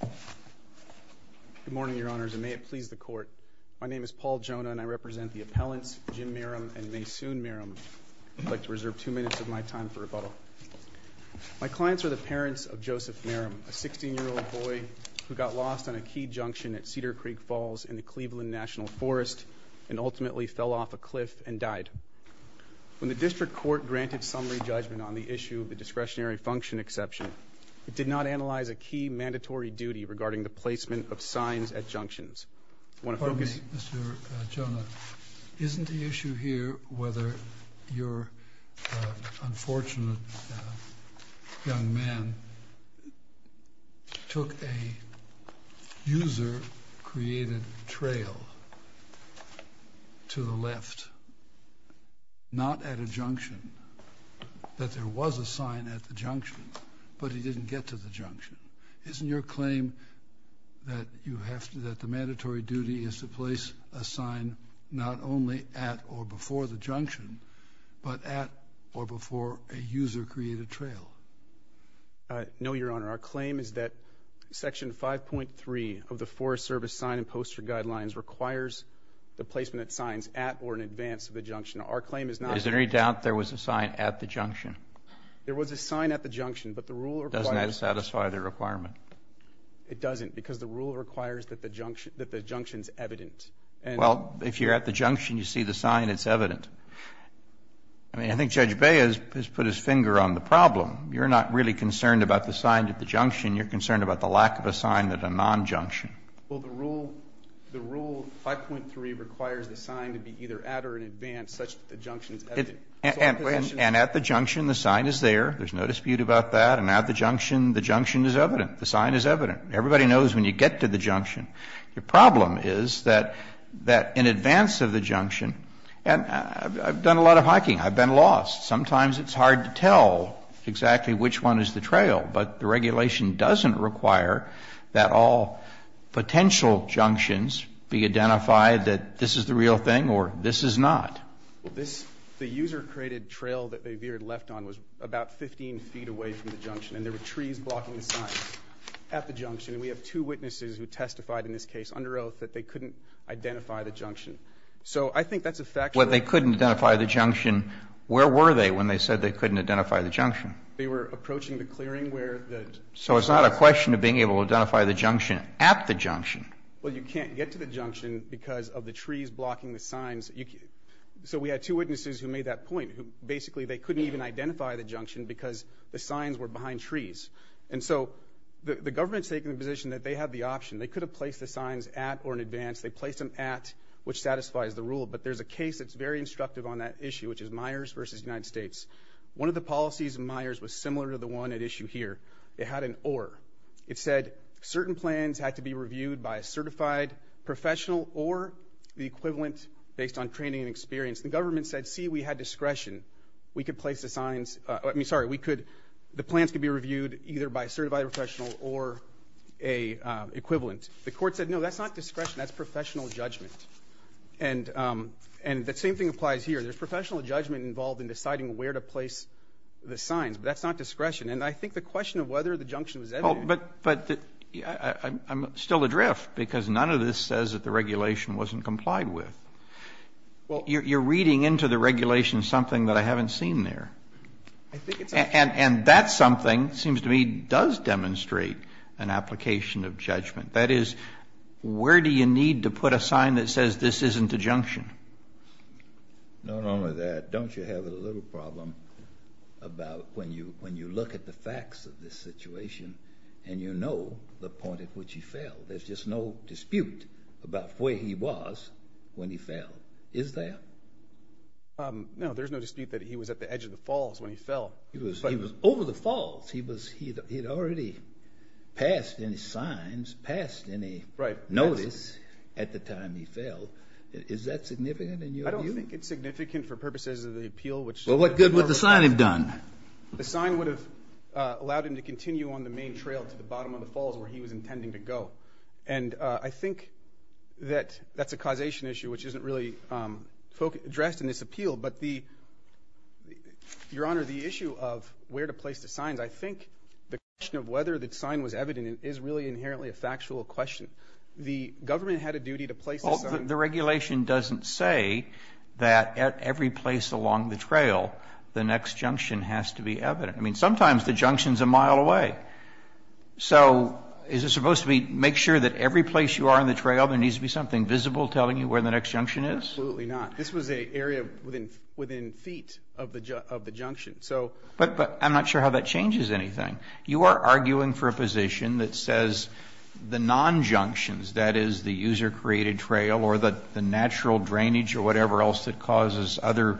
Good morning, Your Honors, and may it please the Court. My name is Paul Jonah, and I represent the appellants Jim Meram and Maysoon Meram. I'd like to reserve two minutes of my time for rebuttal. My clients are the parents of Joseph Meram, a 16-year-old boy who got lost on a key junction at Cedar Creek Falls in the Cleveland National Forest and ultimately fell off a cliff and died. When the District Court granted summary judgment on the issue of the discretionary function exception, it did not analyze a key mandatory duty regarding the placement of signs at junctions. I want to focus... Pardon me, Mr. Jonah. Isn't the issue here whether your unfortunate young man took a user-created trail to the left, not at a junction, that there was a sign at the junction, but he didn't get to the junction? Isn't your claim that the mandatory duty is to place a sign not only at or before the junction, but at or before a user-created trail? No, Your Honor. Our claim is that Section 5.3 of the Forest Service Sign and Poster Guidelines requires the placement of signs at or in advance of the junction. Our claim is not... Is there any doubt there was a sign at the junction? There was a sign at the junction, but the rule requires... Doesn't that satisfy the requirement? It doesn't, because the rule requires that the junction is evident. Well, if you're at the junction, you see the sign, it's evident. I mean, I think Judge Bey has put his finger on the problem. You're not really concerned about the sign at the junction. You're concerned about the lack of a sign at a non-junction. Well, the rule 5.3 requires the sign to be either at or in advance, such that the junction is evident. And at the junction, the sign is there. There's no dispute about that. And at the junction, the junction is evident. The sign is evident. Everybody knows when you get to the junction. The problem is that in advance of the junction, and I've done a lot of hiking. I've been lost. Sometimes it's hard to tell exactly which one is the trail, but the regulation doesn't require that all potential junctions be identified that this is the real thing or this is not. The user-created trail that they veered left on was about 15 feet away from the junction, and there were trees blocking the signs at the junction. And we have two witnesses who testified in this case under oath that they couldn't identify the junction. So I think that's a fact. Well, they couldn't identify the junction. Where were they when they said they couldn't identify the junction? They were approaching the clearing where the sign was. So it's not a question of being able to identify the junction at the junction. Well, you can't get to the junction because of the trees blocking the signs. So we had two witnesses who made that point. Basically, they couldn't even identify the junction because the signs were behind trees. And so the government's taking the position that they have the option. They could have placed the signs at or in advance. They placed them at, which satisfies the rule. But there's a case that's very instructive on that issue, which is Myers v. United States. One of the policies of Myers was similar to the one at issue here. It had an or. It said certain plans had to be reviewed by a certified professional or the equivalent based on training and experience. The government said, see, we had discretion. We could place the signs. I mean, sorry, the plans could be reviewed either by a certified professional or a equivalent. The court said, no, that's not discretion. That's professional judgment. And the same thing applies here. There's professional judgment involved in deciding where to place the signs, but that's not discretion. And I think the question of whether the junction was evident. But I'm still adrift because none of this says that the regulation wasn't complied with. Well, you're reading into the regulation something that I haven't seen there. And that something seems to me does demonstrate an application of judgment. That is, where do you need to put a sign that says this isn't a junction? Not only that, don't you have a little problem about when you look at the facts of this situation and you know the point at which he fell? There's just no dispute about where he was when he fell. Is there? No, there's no dispute that he was at the edge of the falls when he fell. He was over the falls. He had already passed any signs, passed any notice at the time he fell. Is that significant in your view? I don't think it's significant for purposes of the appeal. Well, what good would the sign have done? The sign would have allowed him to continue on the main trail to the bottom of the falls where he was intending to go. And I think that that's a causation issue which isn't really addressed in this appeal. But, Your Honor, the issue of where to place the signs, I think the question of whether the sign was evident is really inherently a factual question. The government had a duty to place the sign. The regulation doesn't say that at every place along the trail, the next junction has to be evident. I mean, sometimes the junction's a mile away. So is it supposed to make sure that every place you are on the trail, there needs to be something visible telling you where the next junction is? Absolutely not. This was an area within feet of the junction. But I'm not sure how that changes anything. You are arguing for a position that says the non-junctions, that is the user-created trail or the natural drainage or whatever else that causes other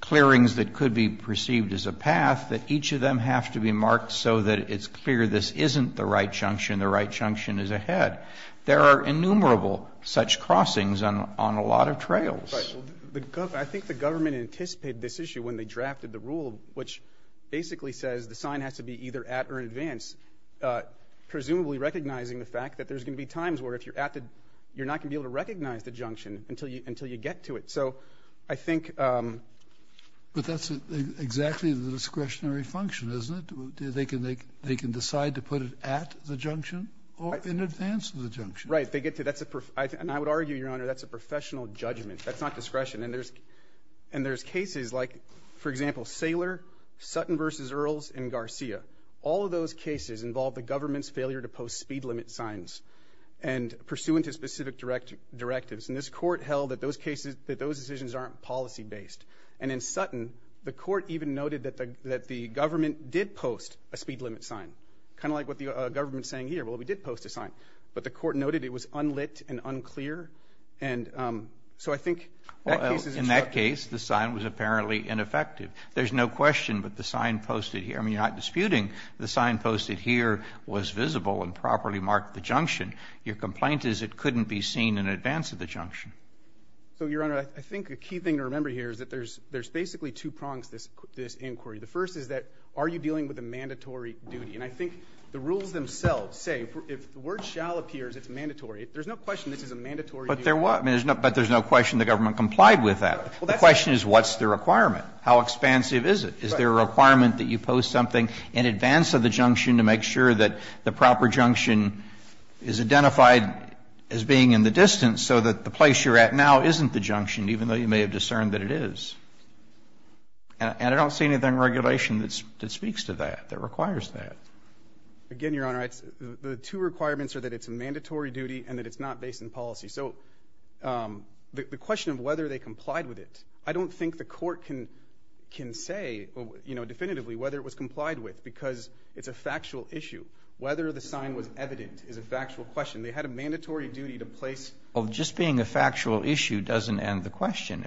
clearings that could be perceived as a path, that each of them have to be marked so that it's clear this isn't the right junction, the right junction is ahead. There are innumerable such crossings on a lot of trails. Right. I think the government anticipated this issue when they drafted the rule, which basically says the sign has to be either at or in advance, presumably recognizing the fact that there's going to be times where if you're at it, you're not going to be able to recognize the junction until you get to it. So I think. But that's exactly the discretionary function, isn't it? They can decide to put it at the junction or in advance of the junction. Right. And I would argue, Your Honor, that's a professional judgment. That's not discretion. And there's cases like, for example, Saylor, Sutton v. Earls, and Garcia. All of those cases involved the government's failure to post speed limit signs and pursuant to specific directives. And this court held that those decisions aren't policy-based. And in Sutton, the court even noted that the government did post a speed limit sign, kind of like what the government is saying here, well, we did post a sign. But the court noted it was unlit and unclear. And so I think that case is instructed. Well, in that case, the sign was apparently ineffective. There's no question, but the sign posted here, I mean, you're not disputing the sign posted here was visible and properly marked the junction. Your complaint is it couldn't be seen in advance of the junction. So, Your Honor, I think a key thing to remember here is that there's basically two prongs to this inquiry. The first is that are you dealing with a mandatory duty? And I think the rules themselves say if the word shall appears, it's mandatory. There's no question this is a mandatory duty. But there's no question the government complied with that. The question is what's the requirement? How expansive is it? Is there a requirement that you post something in advance of the junction to make sure that the proper junction is identified as being in the distance so that the place you're at now isn't the junction, even though you may have discerned that it is? And I don't see anything in regulation that speaks to that, that requires that. Again, Your Honor, the two requirements are that it's a mandatory duty and that it's not based on policy. So the question of whether they complied with it, I don't think the Court can say, you know, definitively whether it was complied with because it's a factual issue. Whether the sign was evident is a factual question. They had a mandatory duty to place. Well, just being a factual issue doesn't end the question.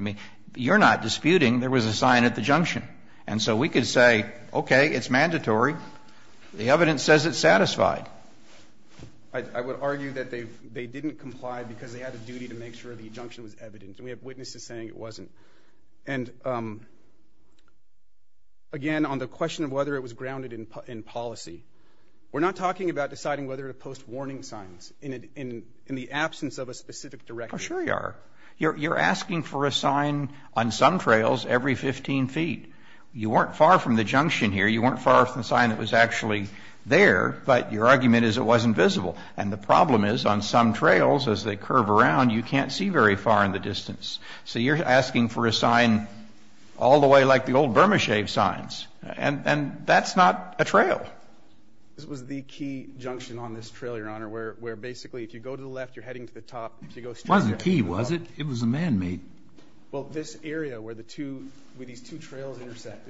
And so we could say, okay, it's mandatory. The evidence says it's satisfied. I would argue that they didn't comply because they had a duty to make sure the junction was evident. And we have witnesses saying it wasn't. And, again, on the question of whether it was grounded in policy, we're not talking about deciding whether to post warning signs in the absence of a specific directive. Oh, sure you are. You're asking for a sign on some trails every 15 feet. You weren't far from the junction here. You weren't far from the sign that was actually there, but your argument is it wasn't visible. And the problem is, on some trails, as they curve around, you can't see very far in the distance. So you're asking for a sign all the way like the old Burma Shave signs. And that's not a trail. This was the key junction on this trail, Your Honor, where basically if you go to the left, you're heading to the top. It wasn't a key, was it? It was a man-made. Well, this area where these two trails intersect,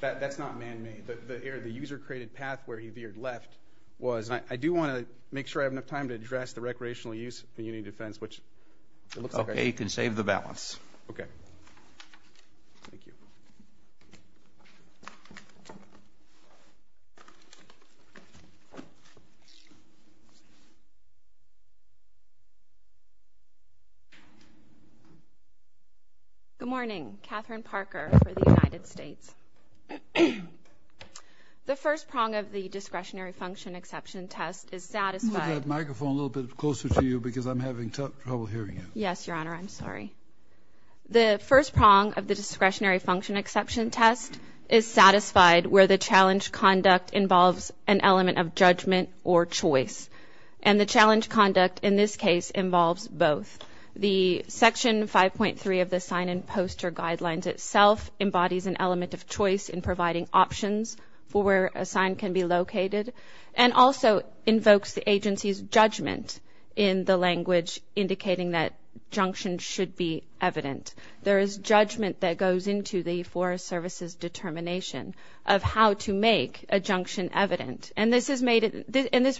that's not man-made. The user-created path where he veered left was. I do want to make sure I have enough time to address the recreational use of the Union of Defense, which it looks like I do. Okay, you can save the balance. Okay. Thank you. Good morning. Catherine Parker for the United States. The first prong of the discretionary function exception test is satisfied. Move that microphone a little bit closer to you because I'm having trouble hearing you. Yes, Your Honor. I'm sorry. The first prong of the discretionary function exception test is satisfied where the challenge conduct involves an element of judgment or choice. And the challenge conduct in this case involves both. The Section 5.3 of the sign-in poster guidelines itself embodies an element of choice in providing options for where a sign can be located and also invokes the agency's judgment in the language indicating that junctions should be evident. There is judgment that goes into the Forest Service's determination of how to make a junction evident. And this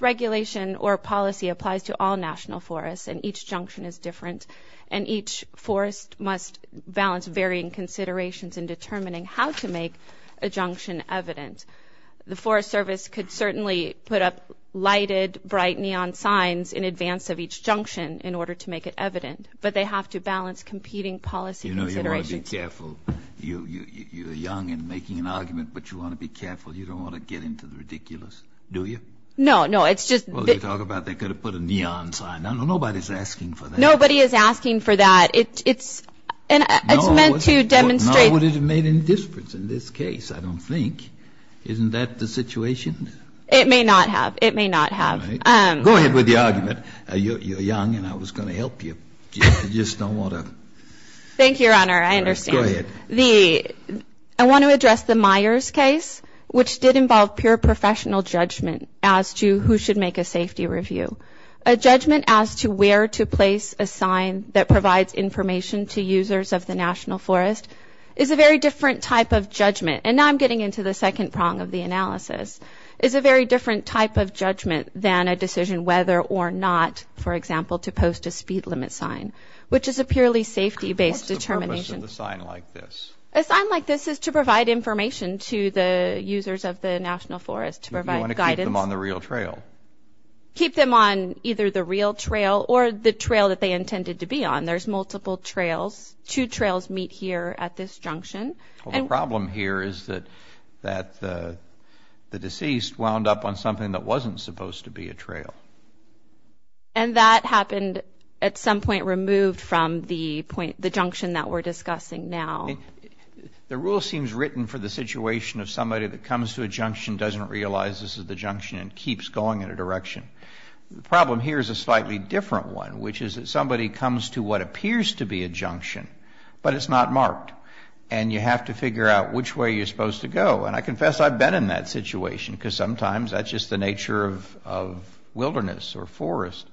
regulation or policy applies to all national forests, and each junction is different, and each forest must balance varying considerations in determining how to make a junction evident. The Forest Service could certainly put up lighted, bright neon signs in advance of each junction in order to make it evident, but they have to balance competing policy considerations. You know, you want to be careful. You're young in making an argument, but you want to be careful. You don't want to get into the ridiculous, do you? No, no. It's just that they could have put a neon sign. Nobody's asking for that. Nobody is asking for that. It's meant to demonstrate. No, it wouldn't have made any difference in this case, I don't think. Isn't that the situation? It may not have. It may not have. All right. Go ahead with the argument. You're young, and I was going to help you. You just don't want to. Thank you, Your Honor. I understand. Go ahead. I want to address the Myers case, which did involve pure professional judgment as to who should make a safety review. A judgment as to where to place a sign that provides information to users of the National Forest is a very different type of judgment, and now I'm getting into the second prong of the analysis, is a very different type of judgment than a decision whether or not, for example, to post a speed limit sign, which is a purely safety-based determination. A sign like this is to provide information to the users of the National Forest, to provide guidance. You want to keep them on the real trail. Keep them on either the real trail or the trail that they intended to be on. There's multiple trails. Two trails meet here at this junction. The problem here is that the deceased wound up on something that wasn't supposed to be a trail. And that happened at some point removed from the junction that we're discussing now. The rule seems written for the situation of somebody that comes to a junction, doesn't realize this is the junction, and keeps going in a direction. The problem here is a slightly different one, which is that somebody comes to what appears to be a junction, but it's not marked, and you have to figure out which way you're supposed to go. And I confess I've been in that situation, because sometimes that's just the nature of wilderness or forest.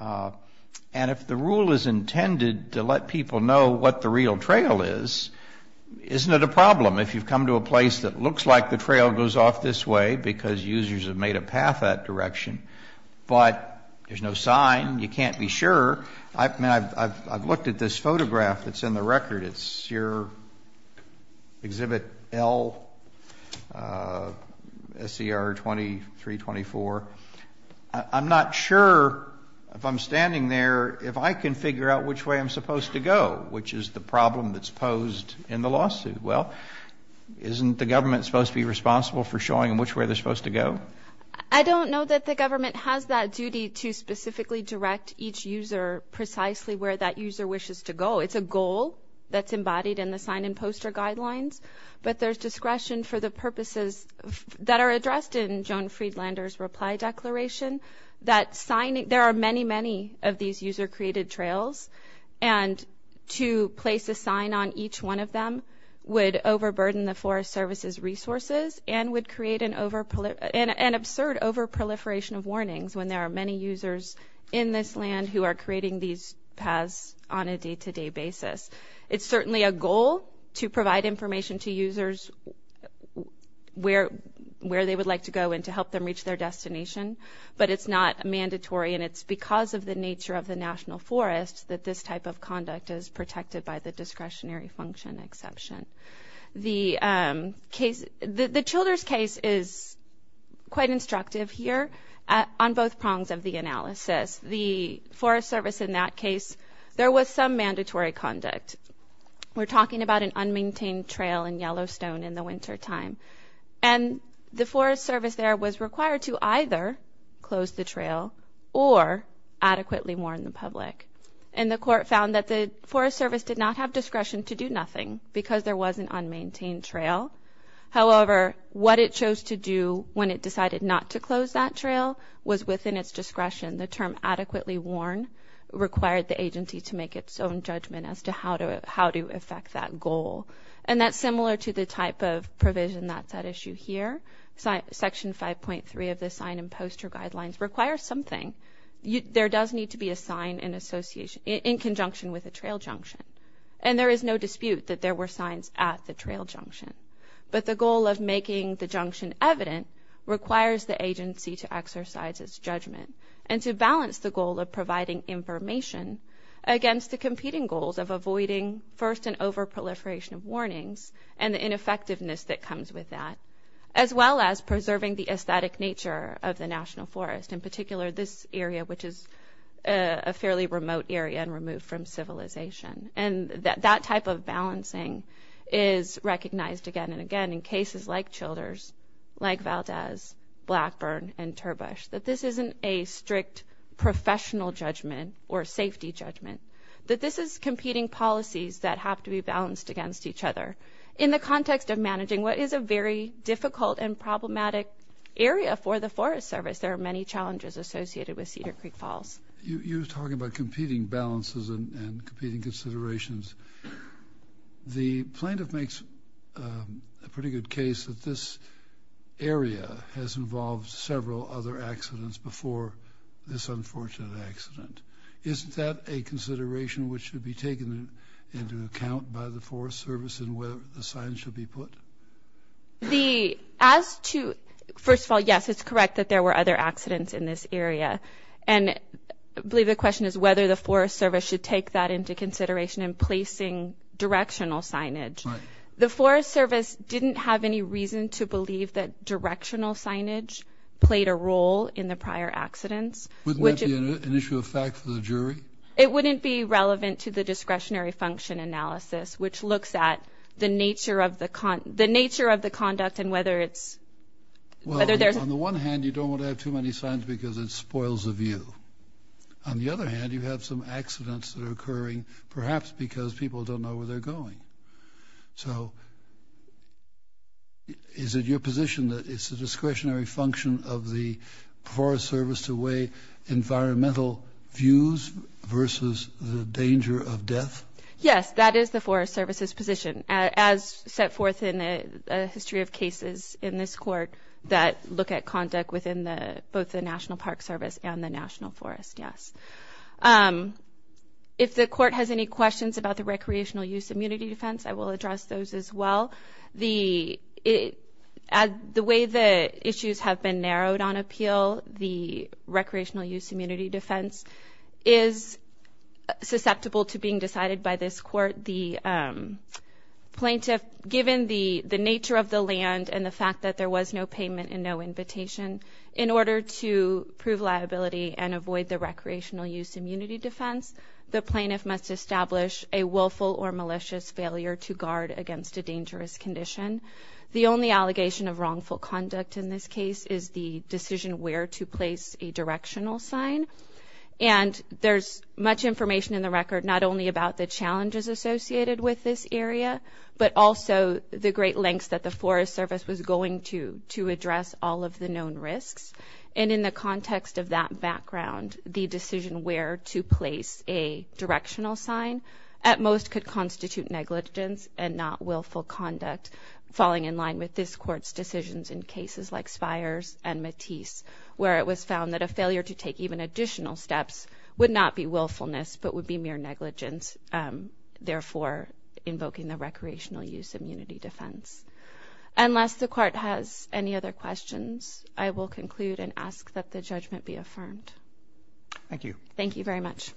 And if the rule is intended to let people know what the real trail is, isn't it a problem if you've come to a place that looks like the trail goes off this way because users have made a path that direction, but there's no sign, you can't be sure. I've looked at this photograph that's in the record. It's your Exhibit L, SCR 2324. I'm not sure, if I'm standing there, if I can figure out which way I'm supposed to go, which is the problem that's posed in the lawsuit. Well, isn't the government supposed to be responsible for showing which way they're supposed to go? I don't know that the government has that duty to specifically direct each user precisely where that user wishes to go. It's a goal that's embodied in the sign-and-poster guidelines, but there's discretion for the purposes that are addressed in Joan Friedlander's reply declaration, that there are many, many of these user-created trails, and to place a sign on each one of them would overburden the Forest Service's resources and would create an absurd overproliferation of warnings when there are many users in this land who are creating these paths on a day-to-day basis. It's certainly a goal to provide information to users where they would like to go and to help them reach their destination, but it's not mandatory, and it's because of the nature of the National Forest that this type of conduct is protected by the discretionary function exception. The Childers case is quite instructive here on both prongs of the analysis. The Forest Service in that case, there was some mandatory conduct. We're talking about an unmaintained trail in Yellowstone in the wintertime, and the Forest Service there was required to either close the trail or adequately warn the public, and the court found that the Forest Service did not have discretion to do nothing because there was an unmaintained trail. However, what it chose to do when it decided not to close that trail was within its discretion. The term adequately warn required the agency to make its own judgment as to how to affect that goal, and that's similar to the type of provision that's at issue here. Section 5.3 of the sign and poster guidelines requires something. There does need to be a sign in conjunction with a trail junction, and there is no dispute that there were signs at the trail junction. But the goal of making the junction evident requires the agency to exercise its judgment and to balance the goal of providing information against the competing goals of avoiding first and overproliferation of warnings and the ineffectiveness that comes with that, as well as preserving the aesthetic nature of the National Forest, in particular this area, which is a fairly remote area and removed from civilization. And that type of balancing is recognized again and again in cases like Childers, like Valdez, Blackburn, and Turbush, that this isn't a strict professional judgment or safety judgment, that this is competing policies that have to be balanced against each other. In the context of managing what is a very difficult and problematic area for the Forest Service, there are many challenges associated with Cedar Creek Falls. You were talking about competing balances and competing considerations. The plaintiff makes a pretty good case that this area has involved several other accidents before this unfortunate accident. Isn't that a consideration which should be taken into account by the Forest Service in whether the sign should be put? First of all, yes, it's correct that there were other accidents in this area. And I believe the question is whether the Forest Service should take that into consideration in placing directional signage. The Forest Service didn't have any reason to believe that directional signage played a role in the prior accidents. Wouldn't that be an issue of fact for the jury? It wouldn't be relevant to the discretionary function analysis, On the one hand, you don't want to have too many signs because it spoils the view. On the other hand, you have some accidents that are occurring perhaps because people don't know where they're going. So is it your position that it's a discretionary function of the Forest Service to weigh environmental views versus the danger of death? Yes, that is the Forest Service's position. As set forth in a history of cases in this court that look at conduct within both the National Park Service and the National Forest, yes. If the court has any questions about the recreational use immunity defense, I will address those as well. The way the issues have been narrowed on appeal, the recreational use immunity defense is susceptible to being decided by this court. The plaintiff, given the nature of the land and the fact that there was no payment and no invitation, in order to prove liability and avoid the recreational use immunity defense, the plaintiff must establish a willful or malicious failure to guard against a dangerous condition. The only allegation of wrongful conduct in this case is the decision where to place a directional sign. And there's much information in the record, not only about the challenges associated with this area, but also the great lengths that the Forest Service was going to to address all of the known risks. And in the context of that background, the decision where to place a directional sign, at most could constitute negligence and not willful conduct, falling in line with this court's decisions in cases like Spires and Matisse, where it was found that a failure to take even additional steps would not be willfulness but would be mere negligence, therefore invoking the recreational use immunity defense. Unless the court has any other questions, I will conclude and ask that the judgment be affirmed. Thank you. Thank you very much.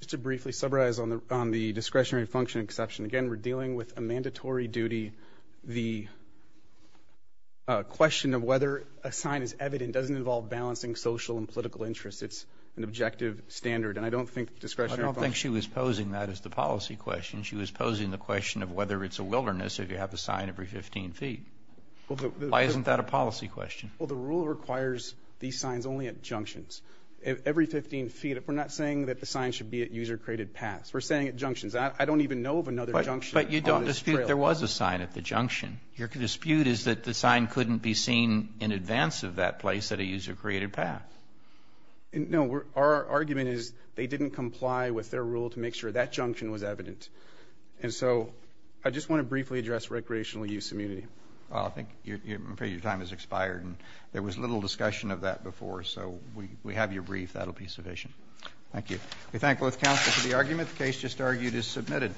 Just to briefly summarize on the discretionary function exception, again, we're dealing with a mandatory duty. The question of whether a sign is evident doesn't involve balancing social and political interests. It's an objective standard, and I don't think discretionary function. I don't think she was posing that as the policy question. She was posing the question of whether it's a wilderness if you have a sign every 15 feet. Why isn't that a policy question? Well, the rule requires these signs only at junctions. Every 15 feet, we're not saying that the sign should be at user-created paths. We're saying at junctions. I don't even know of another junction on this trail. But you don't dispute there was a sign at the junction. Your dispute is that the sign couldn't be seen in advance of that place at a user-created path. No. Our argument is they didn't comply with their rule to make sure that junction was evident. I just want to briefly address recreational use immunity. I'm afraid your time has expired. There was little discussion of that before, so we have your brief. That will be sufficient. Thank you. We thank both counsel for the argument. The case just argued is submitted.